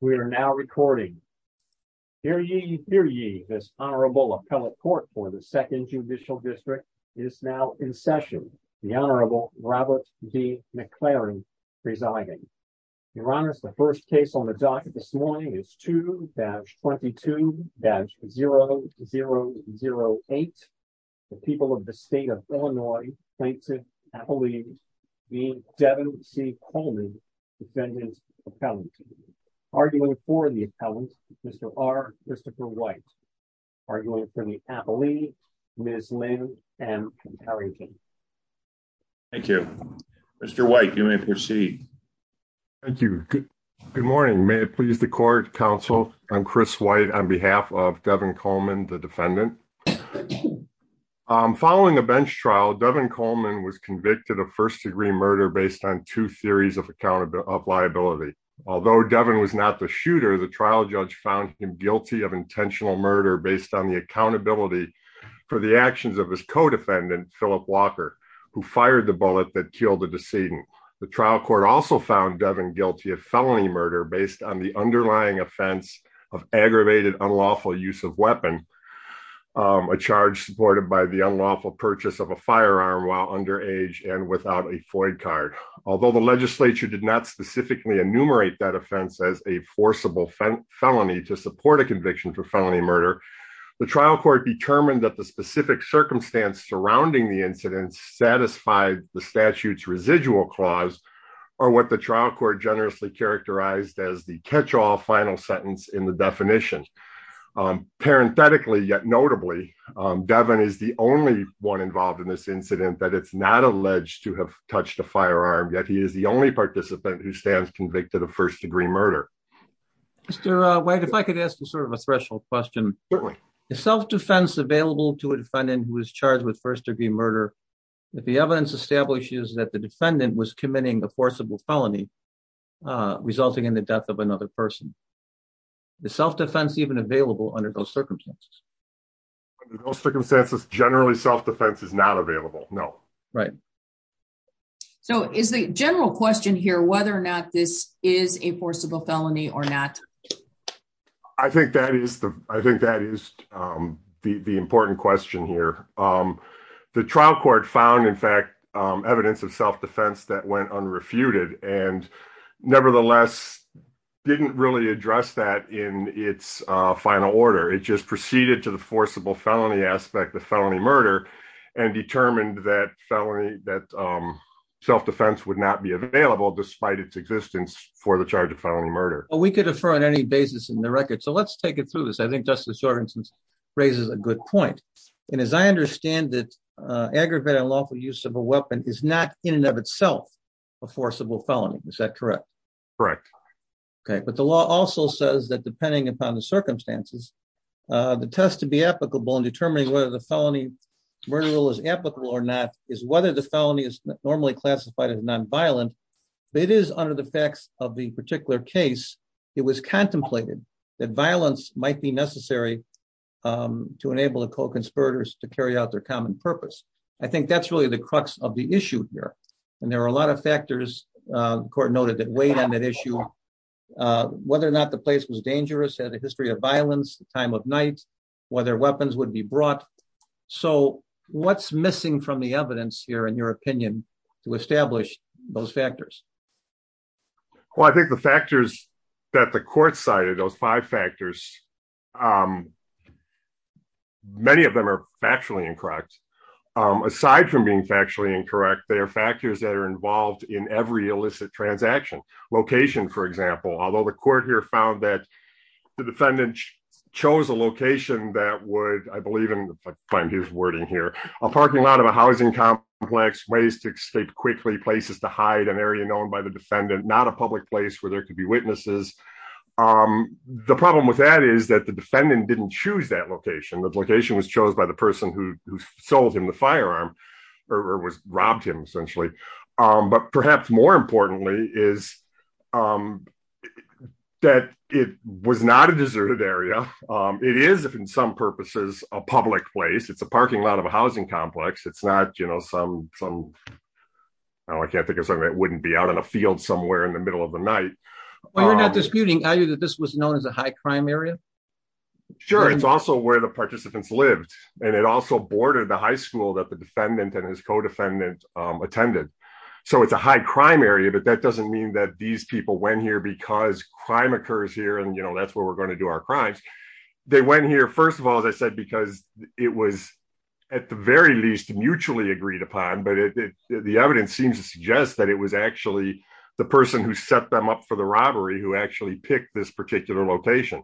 We are now recording. Here you hear you this honorable appellate court for the second judicial district is now in session, the Honorable Robert D. McLaren residing. Your Honor, the first case on the docket this morning is to batch 22 batch 0008. The people of the state of Illinois plaintiff, I believe, the Devin C Coleman defendant. Arguing for the appellant. Mr. R. Christopher white. Arguing for the appellee, Ms. Lynn, and. Thank you, Mr. White, you may proceed. Thank you. Good morning, may it please the court counsel, I'm Chris white on behalf of Devin Coleman the defendant. Following the bench trial Devin Coleman was convicted of first degree murder based on two theories of accountability of liability. Although Devin was not the shooter the trial judge found him guilty of intentional murder based on the accountability for the actions of his co defendant Philip Walker, who fired the bullet that killed the decedent. The trial court also found Devin guilty of felony murder based on the underlying offense of aggravated unlawful use of weapon. A charge supported by the unlawful purchase of a firearm while under age and without a Ford card, although the legislature did not specifically enumerate that offense as a forcible felony to support a conviction for felony murder. The trial court determined that the specific circumstance surrounding the incident satisfied the statutes residual clause, or what the trial court generously characterized as the catch all final sentence in the definition. Parenthetically yet notably Devin is the only one involved in this incident that it's not alleged to have touched a firearm yet he is the only participant who stands convicted of first degree murder. If I could ask you sort of a threshold question. The self defense available to a defendant who was charged with first degree murder. The evidence establishes that the defendant was committing a forcible felony, resulting in the death of another person. The self defense even available under those circumstances circumstances generally self defense is not available. No. Right. So is the general question here whether or not this is a forcible felony or not. I think that is the, I think that is the important question here. The trial court found in fact evidence of self defense that went unrefuted and nevertheless didn't really address that in its final order it just proceeded to the forcible felony aspect of felony murder and determined that felony that self defense would not be available despite its existence for the charge of felony murder. Oh, we could defer on any basis in the record so let's take it through this I think Justice Jorgensen's raises a good point. And as I understand it, aggravated unlawful use of a weapon is not in and of itself a forcible felony. Is that correct. Correct. Okay, but the law also says that depending upon the circumstances, the test to be applicable and determining whether the felony murder was applicable or not, is whether the felony is normally classified as nonviolent. It is under the facts of the particular case, it was contemplated that violence might be necessary to enable a co conspirators to carry out their common purpose. I think that's really the crux of the issue here. And there are a lot of factors court noted that weighed on that issue, whether or not the place was dangerous had a history of violence, the time of night, whether weapons would be brought. So, what's missing from the evidence here in your opinion to establish those factors. Well, I think the factors that the court side of those five factors. Many of them are actually incorrect. Aside from being factually incorrect they are factors that are involved in every illicit transaction location for example although the court here found that the defendant chose a location that would I believe in his wording here, a parking lot of a housing complex ways to escape quickly places to hide an area known by the defendant not a public place where there could be witnesses. The problem with that is that the defendant didn't choose that location that location was chose by the person who sold him the firearm, or was robbed him essentially, but perhaps more importantly is that it was not a deserted area. It is if in some purposes, a public place it's a parking lot of a housing complex it's not you know some some. I can't think of something that wouldn't be out in a field somewhere in the middle of the night. We're not disputing value that this was known as a high crime area. Sure, it's also where the participants lived, and it also boarded the high school that the defendant and his co defendant attended. So it's a high crime area but that doesn't mean that these people went here because crime occurs here and you know that's where we're going to do our crimes. They went here. First of all, as I said, because it was at the very least mutually agreed upon but the evidence seems to suggest that it was actually the person who set them up for the robbery who actually picked this particular location.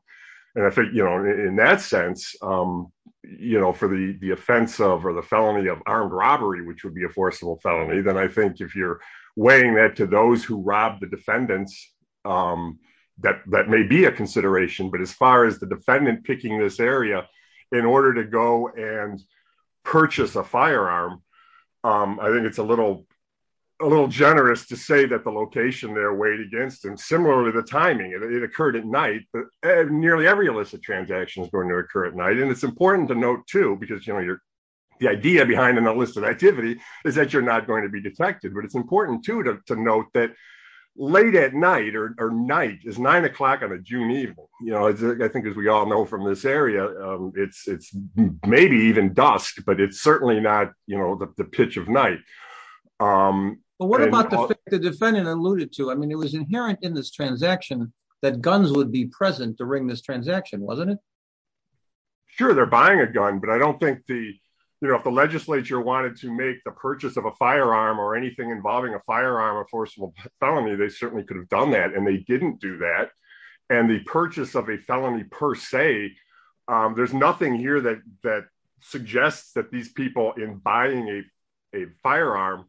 And I think, you know, in that sense, you know, for the, the offensive or the felony of armed robbery which would be a forcible felony then I think if you're weighing that to those who robbed the defendants. That, that may be a consideration but as far as the defendant picking this area in order to go and purchase a firearm. I think it's a little, a little generous to say that the location they're weighed against and similarly the timing it occurred at night, but nearly every illicit transaction is going to occur at night and it's important to note too because you know you're the idea behind an illicit activity is that you're not going to be detected but it's important to to note that late at night or night is nine o'clock on a June evening, you know, I think as we all know from this area. It's it's maybe even dusk but it's certainly not, you know, the pitch of night. The defendant alluded to I mean it was inherent in this transaction that guns would be present during this transaction wasn't it. Sure they're buying a gun but I don't think the, you know, if the legislature wanted to make the purchase of a firearm or anything involving a firearm or forcible felony they certainly could have done that and they didn't do that. And the purchase of a felony per se. There's nothing here that that suggests that these people in buying a firearm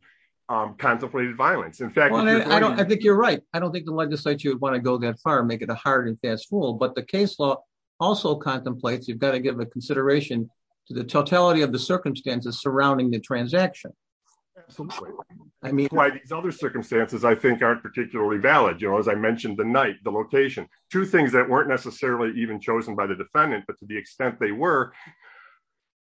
contemplated violence in fact I don't think you're right, I don't think the legislature would want to go that far make it a hard and fast fool but the case law also contemplates you've got to give a consideration to the totality of the circumstances surrounding the transaction. I mean why these other circumstances I think aren't particularly valid you know as I mentioned the night the location, two things that weren't necessarily even chosen by the defendant but to the extent they were,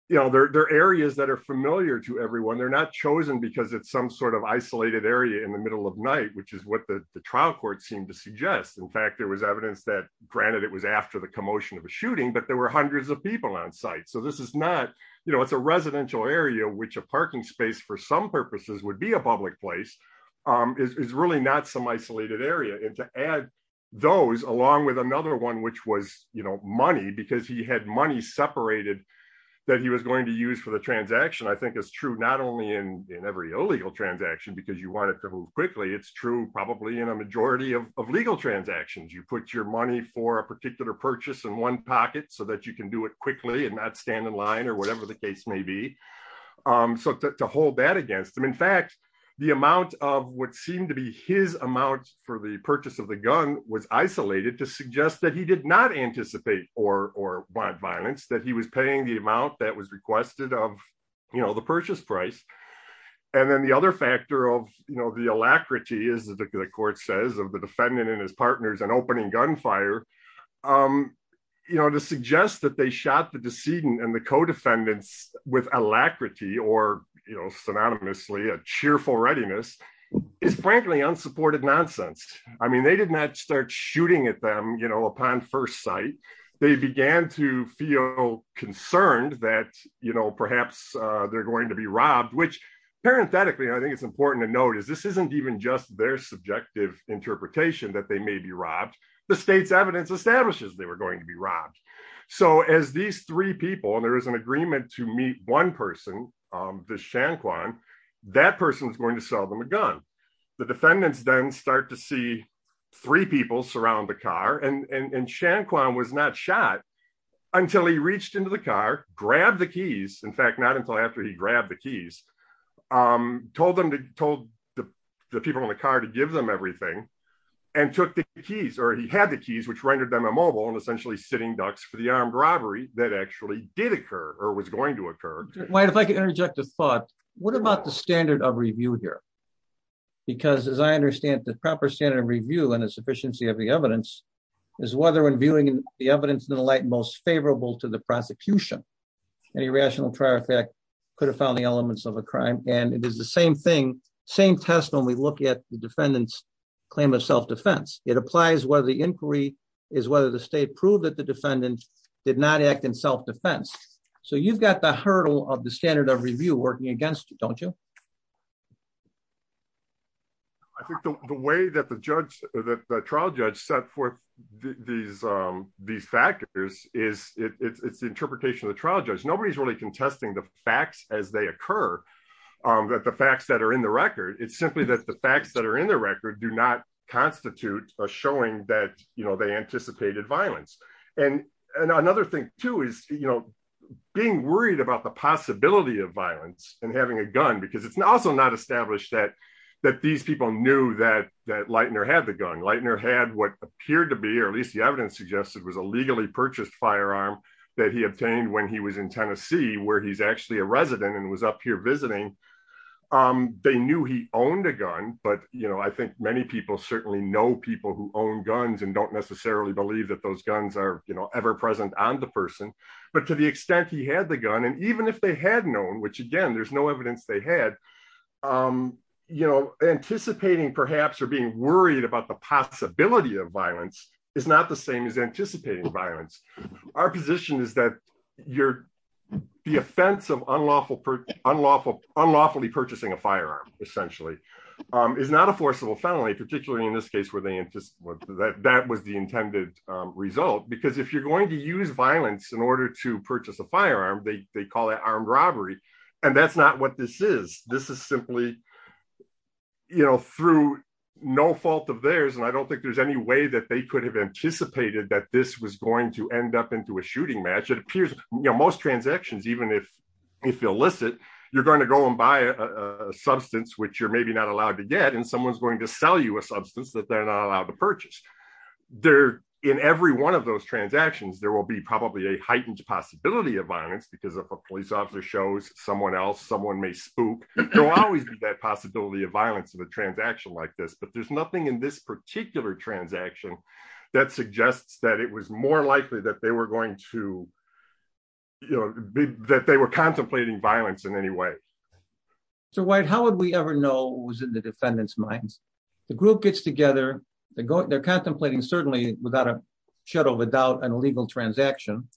you know, their areas that are familiar to everyone they're not chosen because it's some sort of isolated area in the middle of night, which is what the trial court seemed to suggest in fact there was evidence that granted it was after the commotion of a shooting but there were hundreds of people on site so this is not, you know, it's a residential area which a parking space for some purposes would be a public place is really not some isolated area and to add those along with another one which was, you know, money because he had money separated that he was in every illegal transaction because you want it to move quickly it's true probably in a majority of legal transactions you put your money for a particular purchase in one pocket so that you can do it quickly and not stand in line or whatever the case may be. So to hold that against them in fact, the amount of what seemed to be his amount for the purchase of the gun was isolated to suggest that he did not anticipate or want violence that he was paying the amount that was requested of, you know, the purchase price. And then the other factor of, you know, the alacrity is the court says of the defendant and his partners and opening gunfire. You know, to suggest that they shot the decedent and the co defendants with alacrity or, you know, synonymously a cheerful readiness is frankly unsupported nonsense. I mean they did not start shooting at them, you know, upon first sight, they began to feel concerned that, you know, perhaps they're going to be robbed which parenthetically I think it's important to note is this isn't even just their subjective interpretation that they may be robbed the state's evidence establishes they were going to be robbed. So as these three people and there is an agreement to meet one person. The Shan Kwan, that person is going to sell them a gun. The defendants then start to see three people surround the car and Shan Kwan was not shot until he reached into the car, grab the keys, in fact, not until after he grabbed the keys. Told them to told the people in the car to give them everything and took the keys or he had the keys which rendered them a mobile and essentially sitting ducks for the armed robbery that actually did occur, or was going to occur. If I could interject a thought. What about the standard of review here. Because as I understand the proper standard of review and a sufficiency of the evidence is whether when viewing the evidence in the light most favorable to the prosecution. Any rational trial effect could have found the elements of a crime, and it is the same thing. Same test when we look at the defendants claim of self defense, it applies whether the inquiry is whether the state proved that the defendant did not act in self defense. So you've got the hurdle of the standard of review working against you, don't you. I think the way that the judge that the trial judge set forth. These, these factors is it's interpretation of the trial judge nobody's really contesting the facts as they occur. The facts that are in the record, it's simply that the facts that are in the record do not constitute a showing that you know they anticipated violence and another thing too is, you know, being worried about the possibility of violence and having a gun because it's also not established that that these people knew that that lightener had the gun lightener had what appeared to be or at least the evidence suggested was a legally purchased firearm that he obtained when he was in Tennessee where he's actually a resident and was up here visiting. Um, they knew he owned a gun, but you know I think many people certainly know people who own guns and don't necessarily believe that those guns are, you know, ever present on the person. But to the extent he had the gun and even if they had known which again there's no evidence they had, you know, anticipating perhaps are being worried about the possibility of violence is not the same as anticipating violence. Our position is that you're the offensive unlawful unlawful unlawfully purchasing a firearm, essentially, is not a forcible felony particularly in this case where they just want that that was the intended result because if you're going to use violence to purchase a firearm they call it armed robbery. And that's not what this is, this is simply, you know, through no fault of theirs and I don't think there's any way that they could have anticipated that this was going to end up into a shooting match it appears, you know most transactions even if if illicit, you're going to go and buy a substance which you're maybe not allowed to get and someone's going to sell you a substance that they're not allowed to purchase there in every one of those transactions there will be probably a heightened possibility of violence because if a police officer shows someone else someone may spook, there will always be that possibility of violence of a transaction like this but there's nothing in this particular transaction that suggests that it was more likely that they were going to, you know, that they were contemplating violence in any way. So why how would we ever know who's in the defendant's minds, the group gets together, they're contemplating certainly without a shadow of a doubt an illegal transaction.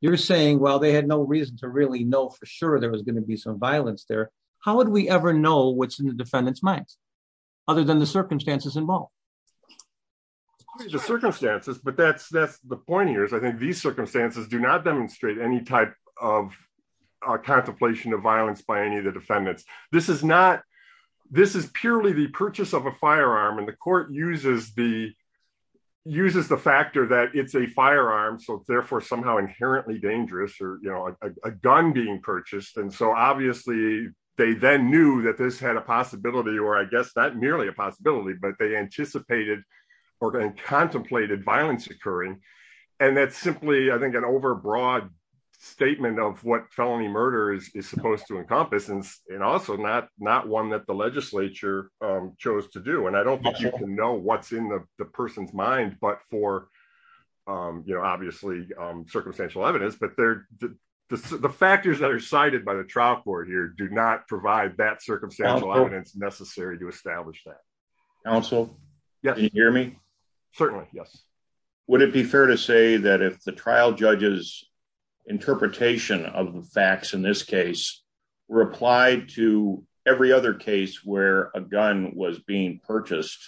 You're saying well they had no reason to really know for sure there was going to be some violence there. How would we ever know what's in the defendant's minds, other than the circumstances involved. The circumstances but that's that's the point here is I think these circumstances do not demonstrate any type of contemplation of violence by any of the defendants, this is not. This is purely the purchase of a firearm and the court uses the uses the factor that it's a firearm so therefore somehow inherently dangerous or, you know, a gun being purchased and so obviously they then knew that this had a possibility or I guess that was merely a possibility but they anticipated or contemplated violence occurring. And that's simply I think an overbroad statement of what felony murder is supposed to encompass and and also not, not one that the legislature chose to do and I don't know what's in the person's mind but for, you know, obviously, circumstantial evidence but they're the factors that are cited by the trial court here do not provide that circumstantial evidence necessary to establish that. Council. Yes, hear me. Certainly, yes. Would it be fair to say that if the trial judges interpretation of the facts in this case replied to every other case where a gun was being purchased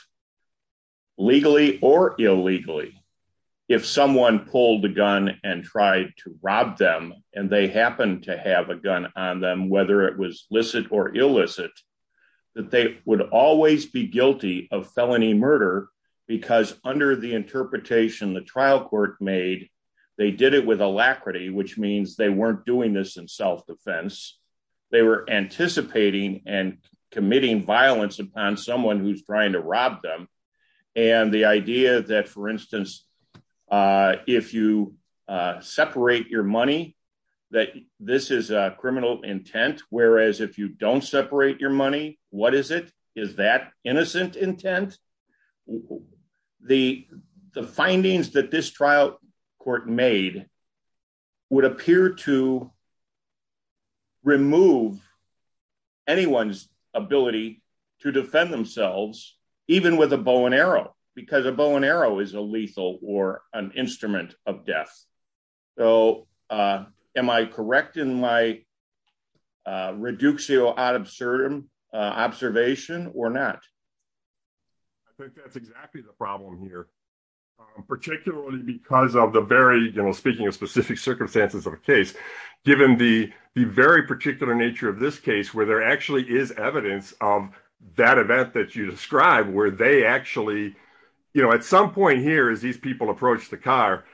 legally or illegally. If someone pulled the gun and tried to rob them, and they happen to have a gun on them whether it was listed or illicit that they would always be guilty of felony murder, because under the interpretation the trial court made. They did it with alacrity which means they weren't doing this in self defense. They were anticipating and committing violence upon someone who's trying to rob them. And the idea that for instance, if you separate your money that this is a criminal intent, whereas if you don't separate your money, what is it is that innocent intent. The, the findings that this trial court made would appear to remove anyone's ability to defend themselves, even with a bow and arrow, because a bow and arrow is a lethal or an instrument of death. So, am I correct in my reductio ad absurdum observation or not. I think that's exactly the problem here, particularly because of the very, you know, speaking of specific circumstances of case, given the, the very particular nature of this case where there actually is evidence of that event that you described where they actually, you know, at some point here is these people approach the car,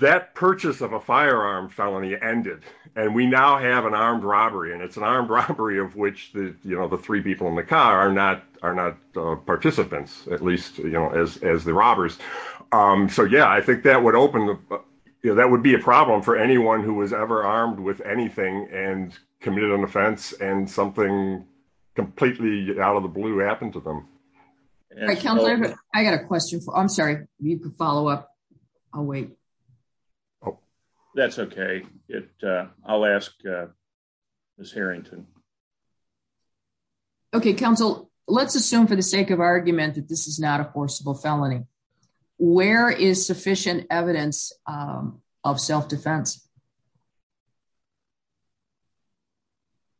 that purchase of a firearm felony ended, and we now have an armed robbery and it's an armed robbery of which the you know the three people in the car are not are not participants, at least, you know, as as the robbers. So yeah, I think that would open the, that would be a problem for anyone who was ever armed with anything and committed an offense and something completely out of the blue happened to them. I got a question for I'm sorry, you can follow up. I'll wait. Oh, that's okay. It. I'll ask this Harrington. Okay, Council, let's assume for the sake of argument that this is not a forcible felony. Where is sufficient evidence of self defense.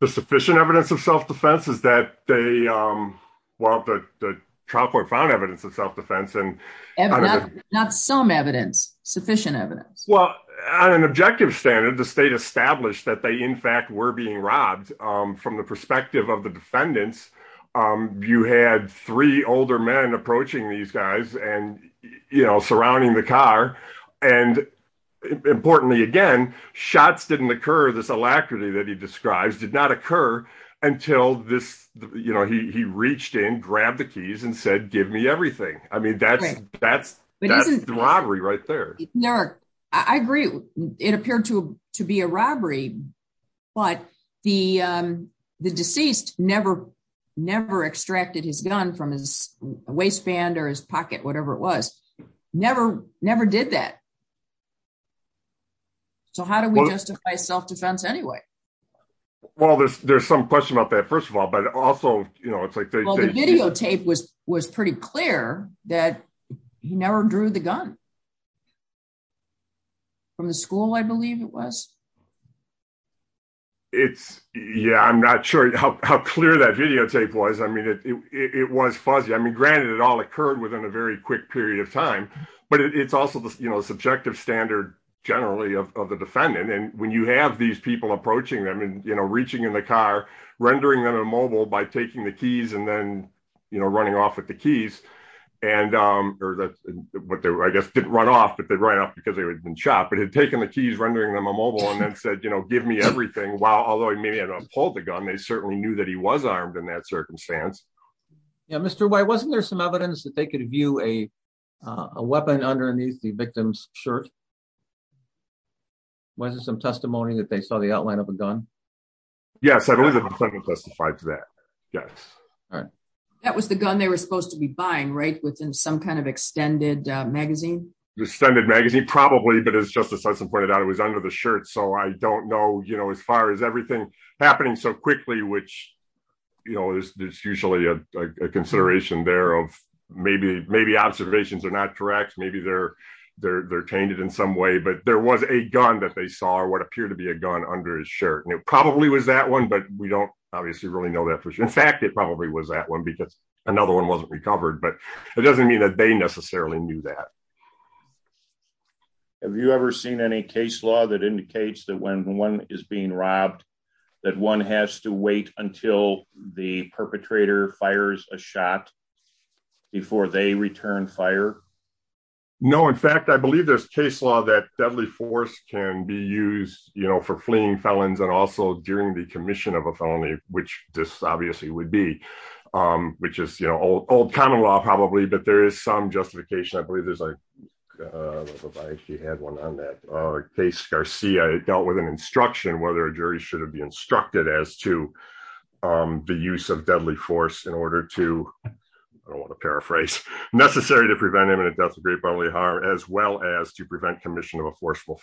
The sufficient evidence of self defense is that they want the chalkboard found evidence of self defense and not some evidence sufficient evidence, well, an objective standard the state established that they in fact were being robbed. And from the perspective of the defendants. You had three older men approaching these guys and, you know, surrounding the car. And importantly, again, shots didn't occur this alacrity that he describes did not occur until this, you know, he reached in grab the keys and said give me everything. I mean, that's, that's, that's the robbery right there. I agree, it appeared to be a robbery. But the deceased, never, never extracted his gun from his waistband or his pocket whatever it was never, never did that. So how do we justify self defense anyway. Well, there's, there's some question about that first of all, but also, you know, it's like the videotape was was pretty clear that he never drew the gun from the school I believe it was. It's, yeah, I'm not sure how clear that videotape was I mean it was fuzzy I mean granted it all occurred within a very quick period of time, but it's also the, you know, subjective standard, generally of the defendant and when you have these people know everything while although he may have pulled the gun they certainly knew that he was armed in that circumstance. Yeah, Mr. Why wasn't there some evidence that they could view a weapon underneath the victim's shirt. Wasn't some testimony that they saw the outline of a gun. Yes, I believe it was justified to that. Yes. All right. That was the gun they were supposed to be buying right within some kind of extended magazine extended magazine probably but it's just as I pointed out it was under the shirt so I don't know, you know, as far as everything happening so quickly which, you know, there's usually a consideration there of, maybe, maybe observations are not correct maybe they're they're they're tainted in some way but there was a gun that they saw what appeared to be a gun under his shirt and it probably was that one but we don't obviously really know that for sure. In fact, it probably was that one because another one wasn't recovered but it doesn't mean that they necessarily knew that. Have you ever seen any case law that indicates that when one is being robbed, that one has to wait until the perpetrator fires a shot before they return fire. No, in fact I believe there's case law that deadly force can be used, you know for fleeing felons and also during the commission of a felony, which this obviously would be, which is you know old old common law probably but there is some justification I believe she had one on that case Garcia dealt with an instruction whether a jury should have been instructed as to the use of deadly force in order to paraphrase necessary to prevent him and it does great bodily harm as well as to prevent commission of a forceful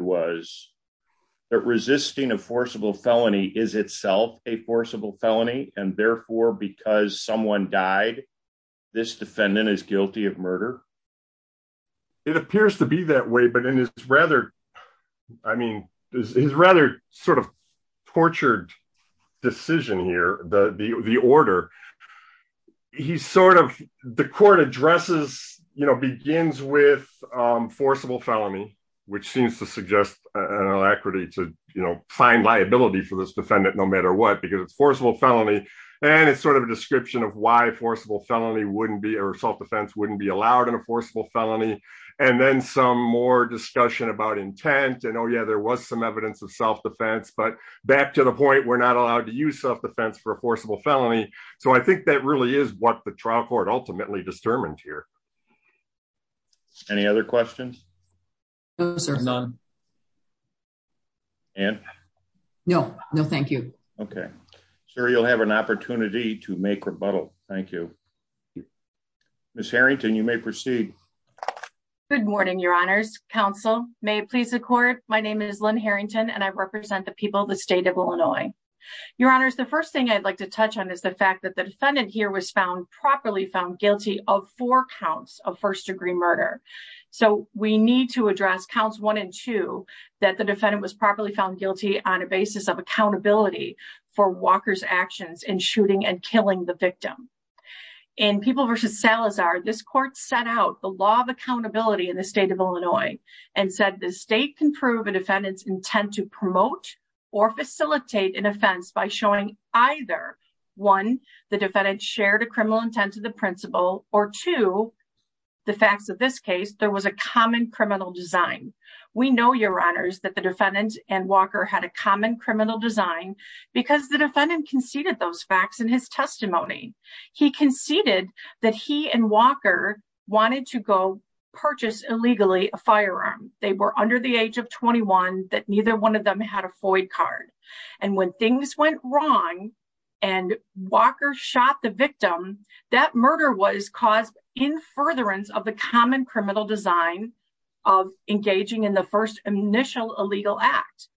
was that resisting a forcible felony is itself a forcible felony, and therefore because someone died. This defendant is guilty of murder. It appears to be that way but in his brother. I mean, is rather sort of tortured decision here, the, the, the order. He's sort of the court addresses, you know begins with forcible felony, which seems to suggest an equity to, you know, find liability for this defendant no matter what because it's forcible felony. And it's sort of a description of why forcible felony wouldn't be or self defense wouldn't be allowed in a forcible felony. And then some more discussion about intent and oh yeah there was some evidence of self defense but back to the point we're not allowed to use self defense for a forcible felony. So I think that really is what the trial court ultimately disturbed here. Any other questions. None. And no, no, thank you. Okay, sir, you'll have an opportunity to make rebuttal. Thank you, Miss Harrington you may proceed. Good morning, Your Honor's counsel, may it please the court. My name is Lynn Harrington and I represent the people of the state of Illinois. Your Honor is the first thing I'd like to touch on is the fact that the defendant here was found properly found guilty of four counts of first degree murder. So, we need to address counts one and two, that the defendant was properly found guilty on a basis of accountability for Walker's actions in shooting and killing the victim. In people versus Salazar this court set out the law of accountability in the state of Illinois, and said the state can prove a defendant's intent to promote or facilitate an offense by showing either one, the defendant shared a criminal intent to the principal, or to the facts of this case, there was a common criminal design. We know your honors that the defendant and Walker had a common criminal design, because the defendant conceded those facts in his testimony. He conceded that he and Walker wanted to go purchase illegally a firearm, they were under the age of 21 that neither one of them had a initial illegal act.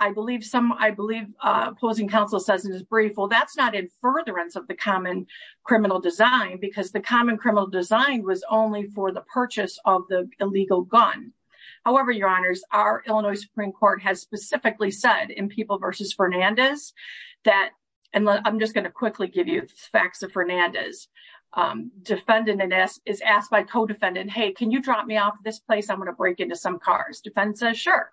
I believe some I believe opposing counsel says in his brief well that's not in furtherance of the common criminal design because the common criminal design was only for the purchase of the illegal gun. However, your honors, our Illinois Supreme Court has specifically said in people versus Fernandez, that, and I'm just going to quickly give you facts of Fernandez defendant is asked by co defendant Hey, can you drop me off this place I'm going to break into some cars sure.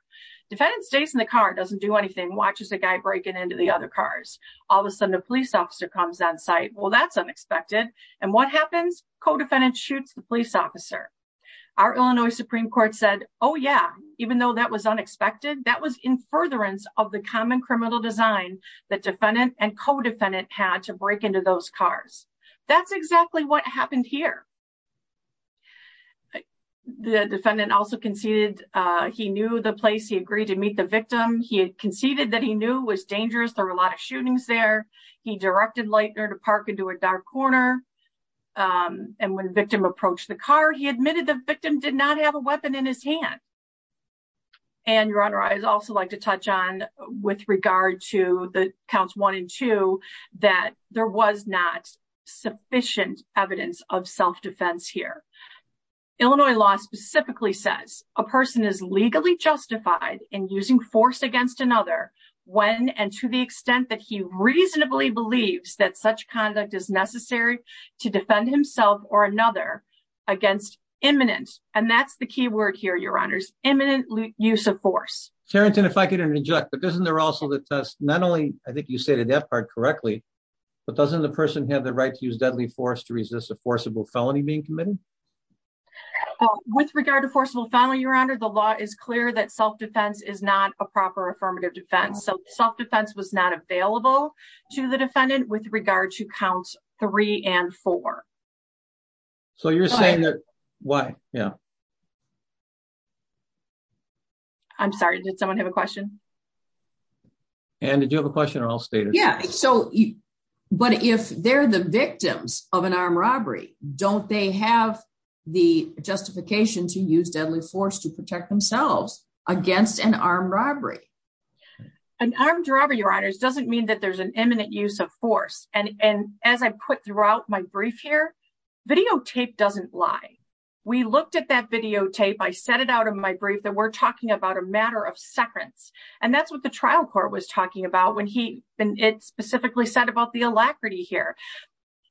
Defendant stays in the car doesn't do anything watches the guy breaking into the other cars. All of a sudden the police officer comes on site well that's unexpected. And what happens, co defendant shoots the police officer. Our Illinois Supreme Court said, Oh yeah, even though that was unexpected that was in furtherance of the common criminal design that defendant and co defendant had to break into those cars. That's exactly what happened here. The defendant also conceded, he knew the place he agreed to meet the victim, he conceded that he knew was dangerous there were a lot of shootings there. He directed light or to park into a dark corner. And when the victim approached the car he admitted the victim did not have a weapon in his hand. And your honor I'd also like to touch on with regard to the counts one and two, that there was not sufficient evidence of self defense here. Illinois law specifically says, a person is legally justified in using force against another when and to the extent that he reasonably believes that such conduct is necessary to defend himself or another against imminent, and that's the key word here to resist a forcible felony being committed. With regard to forcible felony your honor the law is clear that self defense is not a proper affirmative defense so self defense was not available to the defendant with regard to counts, three and four. So you're saying that, why, yeah. I'm sorry, did someone have a question. And did you have a question or I'll stay there. Yeah, so you. But if they're the victims of an armed robbery, don't they have the justification to use deadly force to protect themselves against an armed robbery and armed robbery your honors doesn't mean that there's an imminent use of force, and as I put throughout my brief here videotape doesn't lie. We looked at that videotape I set it out of my brief that we're talking about a matter of seconds. And that's what the trial court was talking about when he been it specifically said about the alacrity here.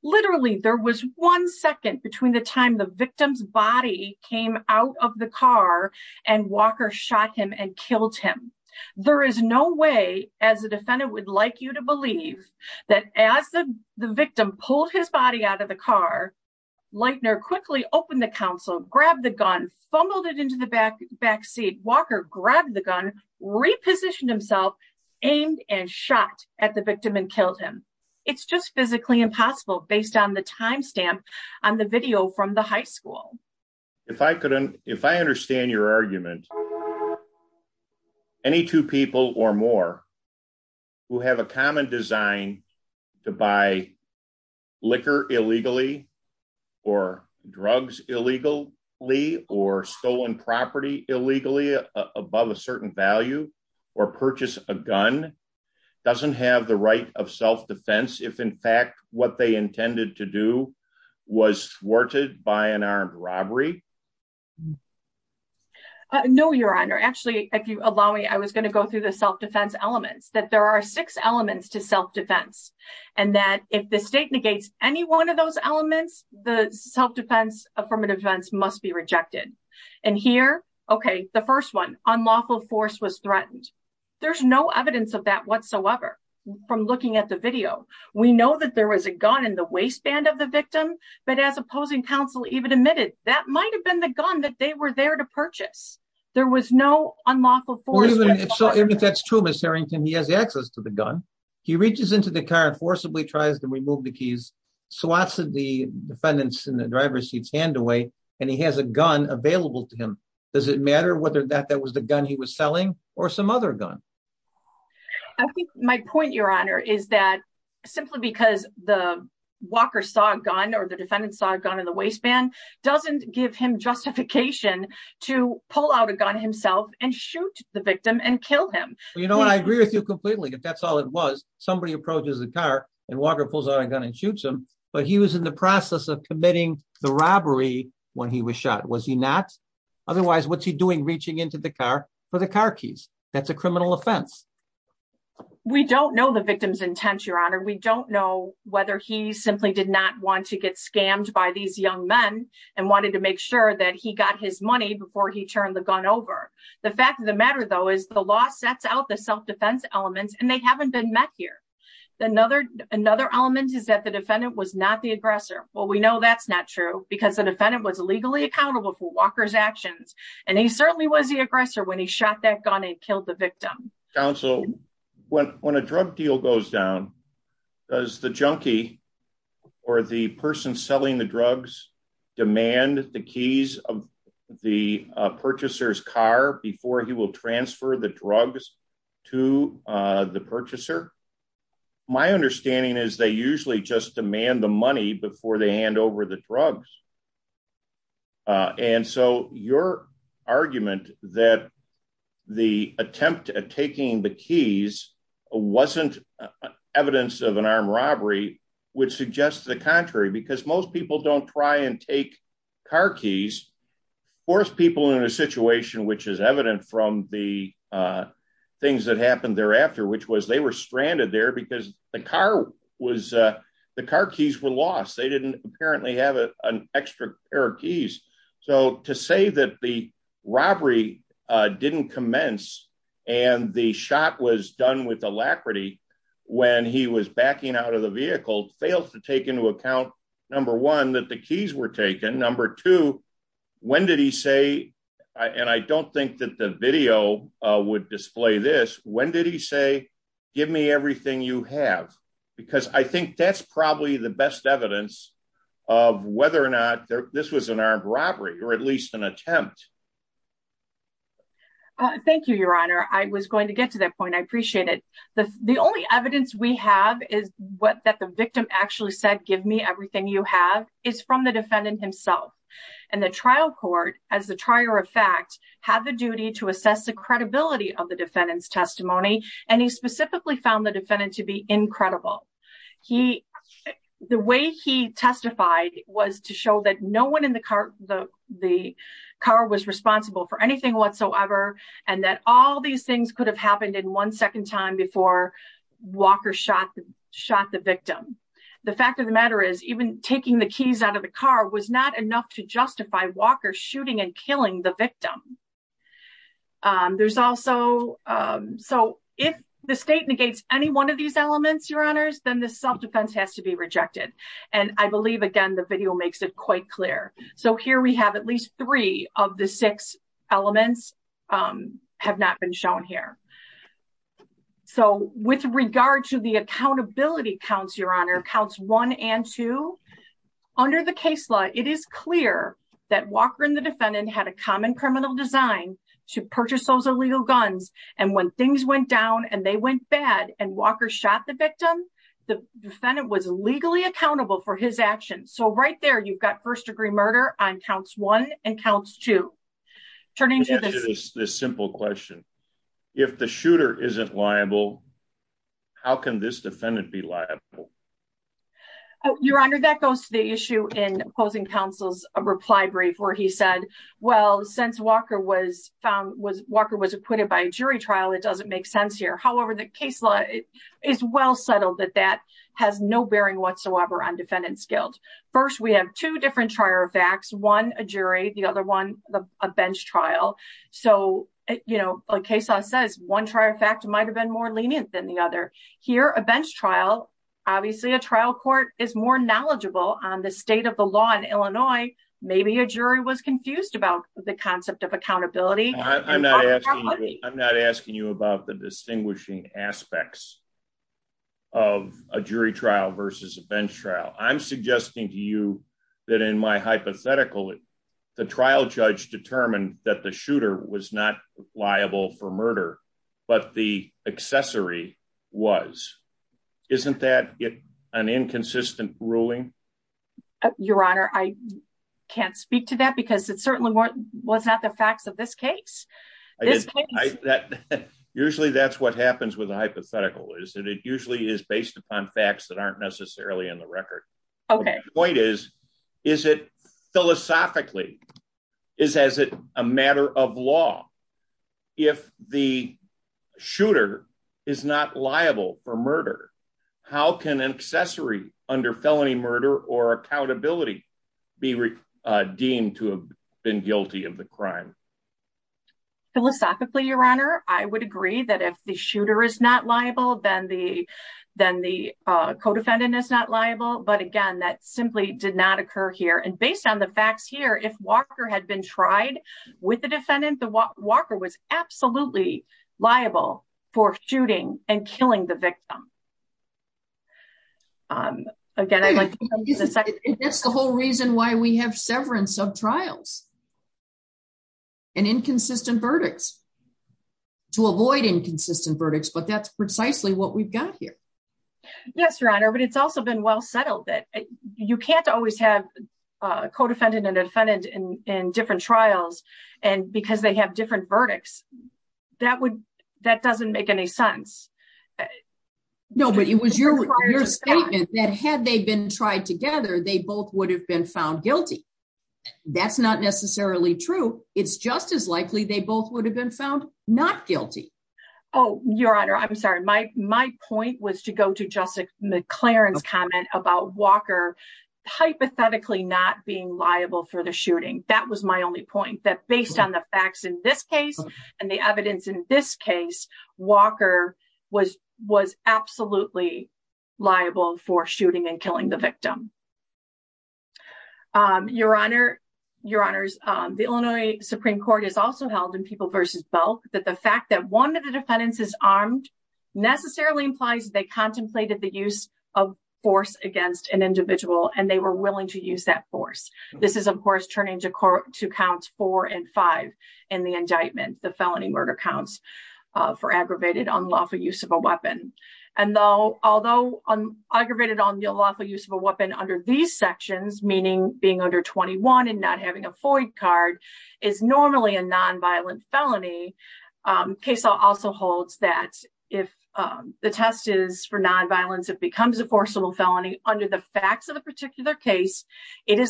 Literally, there was one second between the time the victim's body came out of the car and Walker shot him and killed him. There is no way as a defendant would like you to believe that as the victim pulled his body out of the car. Lightner quickly open the council grab the gun fumbled it into the back backseat Walker grabbed the gun repositioned himself aimed and shot at the victim and killed him. It's just physically impossible based on the timestamp on the video from the high school. If I couldn't, if I understand your argument. Any two people or more. We'll have a common design to buy liquor illegally or drugs, illegal Lee or stolen property illegally above a certain value or purchase a gun doesn't have the right of self defense if in fact what they intended to do was thwarted by an armed robbery. No, Your Honor, actually, if you allow me I was going to go through the self defense elements that there are six elements to self defense, and that if the state negates any one of those elements, the self defense affirmative events must be rejected. And here. Okay, the first one on lawful force was threatened. There's no evidence of that whatsoever. From looking at the video. We know that there was a gun in the waistband of the victim, but as opposing counsel even admitted that might have been the gun that they were there to purchase. There was no unlawful for you. So if that's true Mr Harrington he has access to the gun. He reaches into the car and forcibly tries to remove the keys. So what's the defendants in the driver's seats hand away, and he has a gun available to him. Does it matter whether that that was the gun he was selling, or some other gun. My point, Your Honor, is that simply because the Walker saw a gun or the defendant saw a gun in the waistband doesn't give him justification to pull out a gun himself and shoot the victim and kill him. You know I agree with you completely if that's all it was somebody approaches the car and Walker pulls out a gun and shoots him, but he was in the process of committing the robbery. When he was shot was he not. Otherwise, what's he doing reaching into the car for the car keys. That's a criminal offense. We don't know the victim's intent, Your Honor, we don't know whether he simply did not want to get scammed by these young men and wanted to make sure that he got his money before he turned the gun over the fact of the matter though is the law sets out the self defense elements and they haven't been met here. Another, another element is that the defendant was not the aggressor. Well we know that's not true, because the defendant was legally accountable for Walker's actions, and he certainly was the aggressor when he shot that gun Council. When, when a drug deal goes down, does the junkie, or the person selling the drugs demand the keys of the purchasers car before he will transfer the drugs to the purchaser. My understanding is they usually just demand the money before they hand over the drugs. And so your argument that the attempt at taking the keys wasn't evidence of an armed robbery, which suggests the contrary because most people don't try and take car keys for people in a situation which is evident from the things that happened thereafter which was they were stranded there because the car was the car keys were lost. They didn't apparently have an extra pair of keys. So to say that the robbery didn't commence, and the shot was done with alacrity. When he was backing out of the vehicle fails to take into account. Number one that the keys were taken number two. When did he say, and I don't think that the video would display this, when did he say, give me everything you have, because I think that's probably the best evidence of whether or not this was an armed robbery, or at least an attempt. Thank you, Your Honor, I was going to get to that point I appreciate it. The, the only evidence we have is what that the victim actually said give me everything you have is from the defendant himself, and the trial court, as the trier of fact, have the duty to assess the credibility of the defendants testimony, and he specifically found the defendant to be incredible. He, the way he testified was to show that no one in the car, the, the car was responsible for anything whatsoever, and that all these things could have happened in one second time before Walker shot, shot the victim. The fact of the matter is even taking the keys out of the car was not enough to justify Walker shooting and killing the victim. There's also. So, if the state negates any one of these elements, Your Honors, then the self defense has to be rejected. And I believe again the video makes it quite clear. So here we have at least three of the six elements have not been shown here. So, with regard to the accountability counts Your Honor counts one and two. Under the case law, it is clear that Walker and the defendant had a common criminal design to purchase those illegal guns, and when things went down and they went bad and Walker shot the victim. The defendant was legally accountable for his actions so right there you've got first degree murder on counts one and counts to turn into this simple question. If the shooter isn't liable. How can this defendant be liable. Your Honor that goes to the issue in opposing counsel's reply brief where he said, Well, since Walker was found was Walker was acquitted by a jury trial it doesn't make sense here however the case law is well settled that that has no bearing whatsoever on defendant First we have two different trier facts one a jury, the other one, a bench trial. So, you know, a case law says one trier fact might have been more lenient than the other. Here a bench trial. Obviously a trial court is more knowledgeable on the state of the law in Illinois, maybe a jury was confused about the concept of accountability. I'm not asking you about the distinguishing aspects of a jury trial versus a bench trial, I'm suggesting to you that in my hypothetical, the trial judge determined that the shooter was not liable for murder, but the accessory was. Isn't that an inconsistent ruling. Your Honor, I can't speak to that because it certainly wasn't the facts of this case. Usually that's what happens with a hypothetical is that it usually is based upon facts that aren't necessarily in the record. Okay, point is, is it philosophically is as a matter of law. If the shooter is not liable for murder. How can an accessory under felony murder or accountability be deemed to have been guilty of the crime. Philosophically, Your Honor, I would agree that if the shooter is not liable, then the, then the co defendant is not liable but again that simply did not occur here and based on the facts here if Walker had been tried with the defendant, the Walker was absolutely liable for shooting and killing the victim. Again, that's the whole reason why we have severance of trials and inconsistent verdicts to avoid inconsistent verdicts but that's precisely what we've got here. Yes, Your Honor, but it's also been well settled that you can't always have co defendant and defendant in different trials, and because they have different verdicts, that would, that doesn't make any sense. No, but it was your statement that had they been tried together they both would have been found guilty. That's not necessarily true. It's just as likely they both would have been found not guilty. Oh, Your Honor, I'm sorry, my, my point was to go to Jessica McLaren's comment about Walker hypothetically not being liable for the shooting. That was my only point that based on the facts in this case, and the evidence in this case, Walker was, was absolutely liable for shooting and killing the victim. Your Honor, Your Honors, the Illinois Supreme Court is also held in people versus both that the fact that one of the defendants is armed necessarily implies they contemplated the use of force against an individual and they were willing to use that force. This is of course turning to court to count four and five, and the indictment, the felony murder counts for aggravated unlawful use of a weapon, and though, although I'm aggravated on the lawful use of a weapon under these sections meaning being under 21 and not having a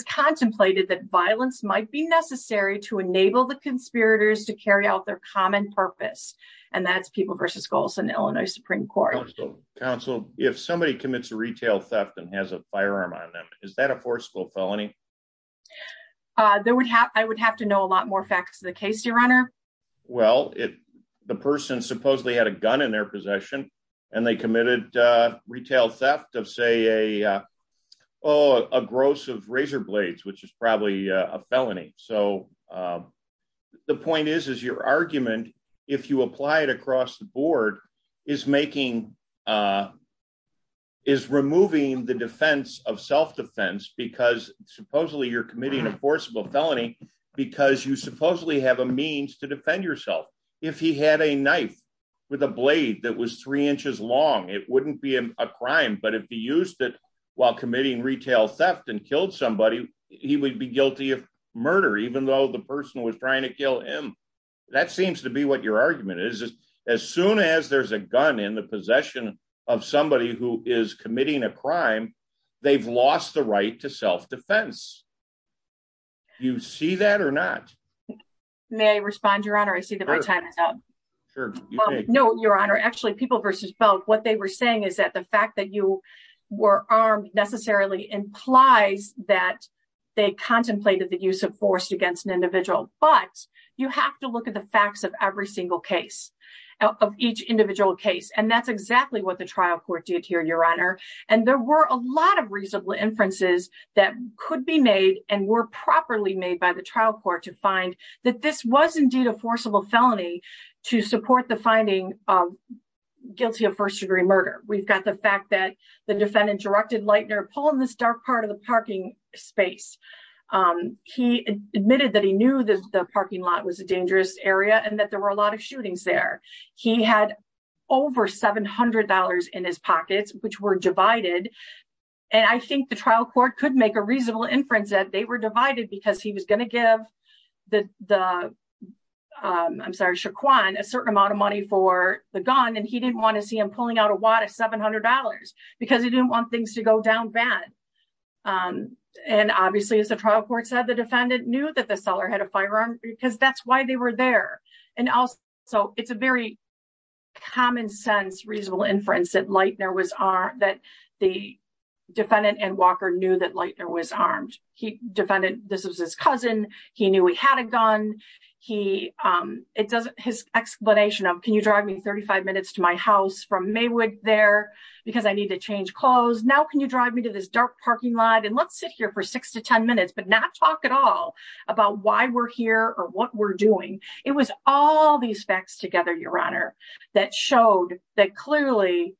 contemplated that violence might be necessary to enable the conspirators to carry out their common purpose, and that's people versus goals and Illinois Supreme Court Council, if somebody commits a retail theft and has a firearm on them. Is that a forceful felony. There would have, I would have to know a lot more facts in the case Your Honor. Well, it. The person supposedly had a gun in their possession, and they committed retail theft of say a. Oh, a gross of razor blades which is probably a felony. So, the point is is your argument. If you apply it across the board is making is removing the defense of self defense because supposedly you're committing a forcible felony, because you supposedly have a means to defend yourself. If he had a knife with a blade that was three inches long, it wouldn't be a crime but it'd be used while committing retail theft and killed somebody, he would be guilty of murder even though the person was trying to kill him. That seems to be what your argument is, as soon as there's a gun in the possession of somebody who is committing a crime. They've lost the right to self defense. You see that or not. May I respond Your Honor I see the right time. No, Your Honor actually people versus both what they were saying is that the fact that you were armed necessarily implies that they contemplated the use of force against an individual, but you have to look at the facts of every single case of each individual case and that's exactly what the trial court did here Your Honor, and there were a lot of reasonable inferences that could be made, and were properly made by the trial court to find that this was indeed a forcible felony to support the finding of guilty of first $700 in his pockets, which were divided. And I think the trial court could make a reasonable inference that they were divided because he was going to give the. I'm sorry Shaquan a certain amount of money for the gun and he didn't want to see him pulling out a lot of $700, because he didn't want things to go down bad. And obviously it's a trial court said the defendant knew that the seller had a firearm, because that's why they were there. And also, so it's a very common sense reasonable inference that light there was are that the defendant and Walker knew that light there was and let's sit here for six to 10 minutes but not talk at all about why we're here or what we're doing. It was all these facts together Your Honor, that showed that clearly,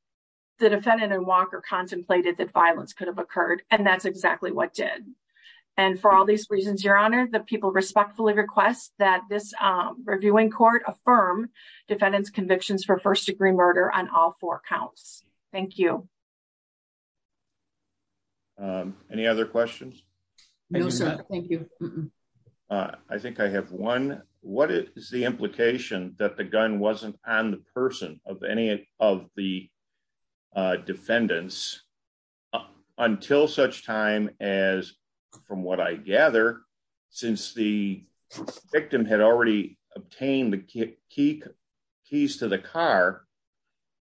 the defendant and Walker contemplated that violence could have occurred, and that's any other questions. Thank you. I think I have one, what is the implication that the gun wasn't on the person of any of the defendants. Until such time as, from what I gather, since the victim had already obtained the key keys to the car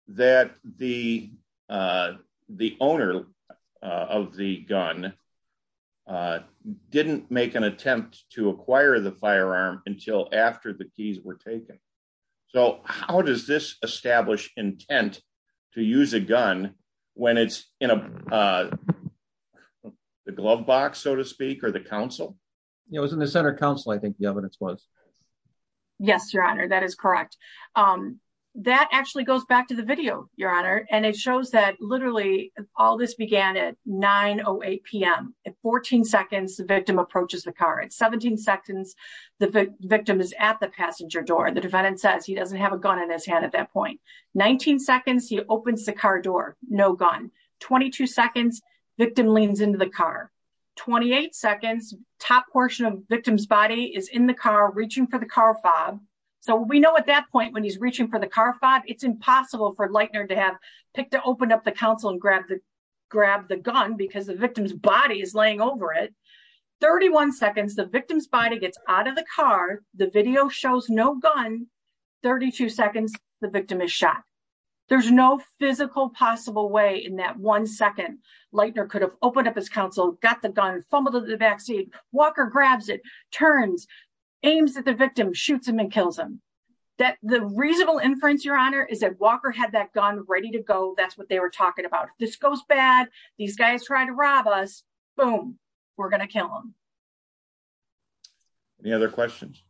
that the, the owner of the gun didn't make an attempt to acquire the firearm until after the keys were taken. So, how does this establish intent to use a gun, when it's in a glove box, so to speak, or the council. It was in the center council I think the evidence was. Yes, Your Honor, that is correct. That actually goes back to the video, Your Honor, and it shows that literally, all this began at 908pm at 14 seconds the victim approaches the car at 17 seconds. The victim is at the passenger door the defendant says he doesn't have a gun in his hand at that point, 19 seconds he opens the car door, no gun, 22 seconds victim leans into the car, 28 seconds, top portion of victim's body is in the car reaching for the car It's impossible for Lightner to have picked to open up the council and grab the, grab the gun because the victim's body is laying over it. 31 seconds the victim's body gets out of the car, the video shows no gun, 32 seconds, the victim is shot. There's no physical possible way in that one second, Lightner could have opened up his counsel, got the gun, fumbled the vaccine, Walker grabs it, turns, aims at the victim shoots him and kills him. The reasonable inference, Your Honor, is that Walker had that gun ready to go, that's what they were talking about. This goes bad, these guys try to rob us, boom, we're going to kill them. Any other questions?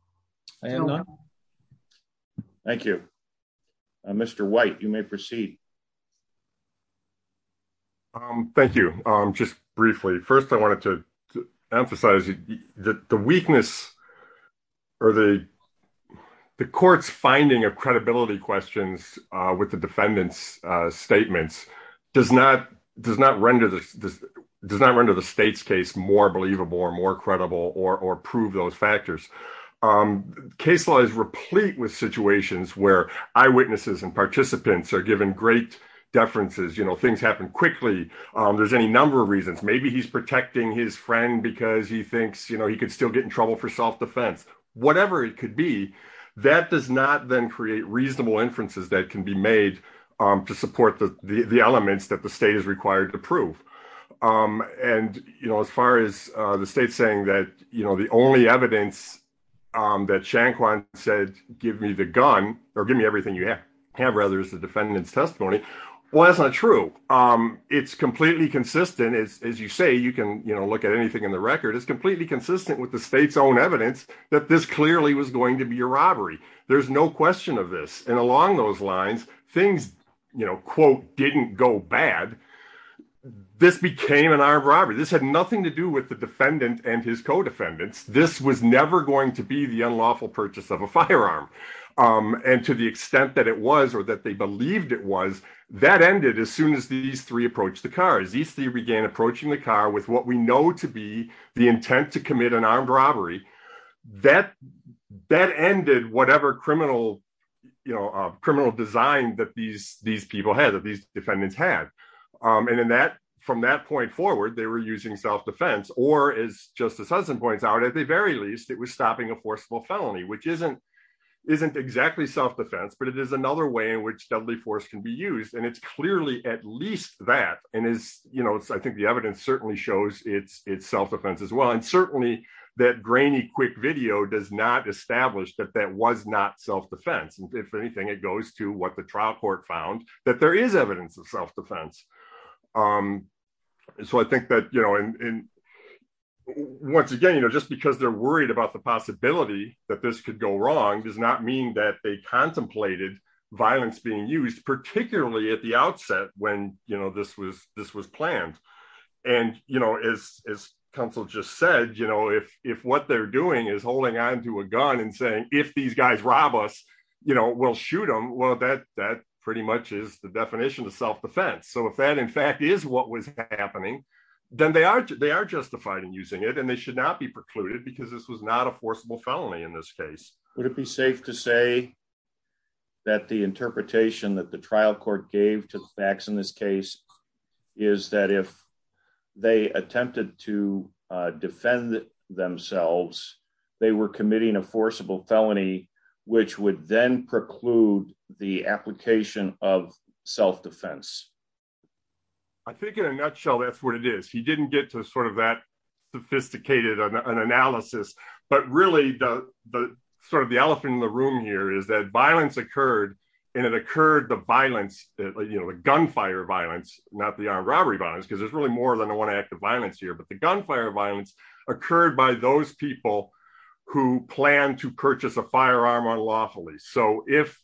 I have none. Thank you. Mr. White, you may proceed. Thank you. Just briefly. First, I wanted to emphasize the weakness or the court's finding of credibility questions with the defendant's statements does not, does not render the, does not render the state's case more believable or more credible or prove those factors. Case law is replete with situations where eyewitnesses and participants are given great deferences, you know, things happen quickly, there's any number of reasons. Maybe he's protecting his friend because he thinks, you know, he could still get in trouble for self-defense, whatever it could be, that does not then create reasonable inferences that can be made to support the elements that the state is required to prove. And, you know, as far as the state saying that, you know, the only evidence that Shanquan said, give me the gun, or give me everything you have, rather, is the defendant's testimony. Well, that's not true. It's completely consistent, as you say, you can, you know, look at anything in the record, it's completely consistent with the state's own evidence that this clearly was going to be a robbery. There's no question of this, and along those lines, things, you know, quote, didn't go bad. This became an armed robbery, this had nothing to do with the defendant and his co-defendants, this was never going to be the unlawful purchase of a firearm. And to the extent that it was, or that they believed it was, that ended as soon as these three approached the cars. These three began approaching the car with what we know to be the intent to commit an armed robbery. That ended whatever criminal, you know, criminal design that these people had, that these defendants had. And in that, from that point forward, they were using self-defense, or as Justice Hudson points out, at the very least, it was stopping a forcible felony, which isn't exactly self-defense, but it is another way in which deadly force can be used. And it's clearly at least that, and is, you know, I think the evidence certainly shows it's self-defense as well, and certainly that grainy quick video does not establish that that was not self-defense. And if anything, it goes to what the trial court found, that there is evidence of self-defense. So I think that, you know, and once again, you know, just because they're worried about the possibility that this could go wrong does not mean that they contemplated violence being used, particularly at the outset when, you know, this was planned. And, you know, as counsel just said, you know, if what they're doing is holding on to a gun and saying, if these guys rob us, you know, we'll shoot them, well, that pretty much is the definition of self-defense. So if that in fact is what was happening, then they are justified in using it and they should not be precluded because this was not a forcible felony in this case. Would it be safe to say that the interpretation that the trial court gave to the facts in this case is that if they attempted to defend themselves, they were committing a forcible felony, which would then preclude the application of self-defense? I think in a nutshell, that's what it is. He didn't get to sort of that sophisticated analysis, but really the sort of the elephant in the room here is that violence occurred and it occurred, the violence, you know, the gunfire violence, not the armed robbery violence, because there's really more than one act of violence here. But the gunfire violence occurred by those people who planned to purchase a firearm on lawfully. So if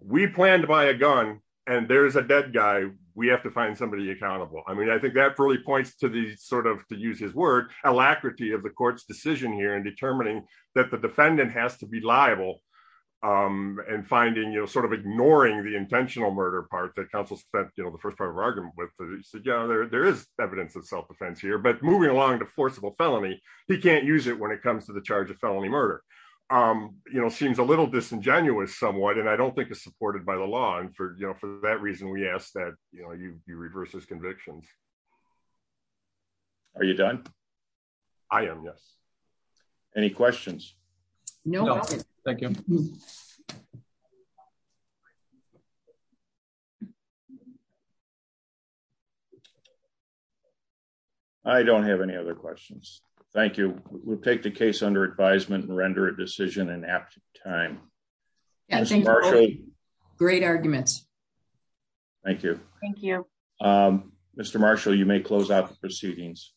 we plan to buy a gun and there is a dead guy, we have to find somebody accountable. I mean, I think that really points to the sort of, to use his word, alacrity of the court's decision here in determining that the defendant has to be liable and finding, you know, sort of ignoring the intentional murder part that counsel spent, you know, the first part of our argument with. Yeah, there is evidence of self-defense here but moving along to forcible felony, he can't use it when it comes to the charge of felony murder. You know, seems a little disingenuous somewhat and I don't think it's supported by the law and for, you know, for that reason we ask that, you know, you reverse his convictions. Are you done? I am, yes. Any questions? No. Thank you. I don't have any other questions. Thank you. We'll take the case under advisement and render a decision in apt time. Great arguments. Thank you. Thank you. Mr. Marshall, you may close out the proceedings.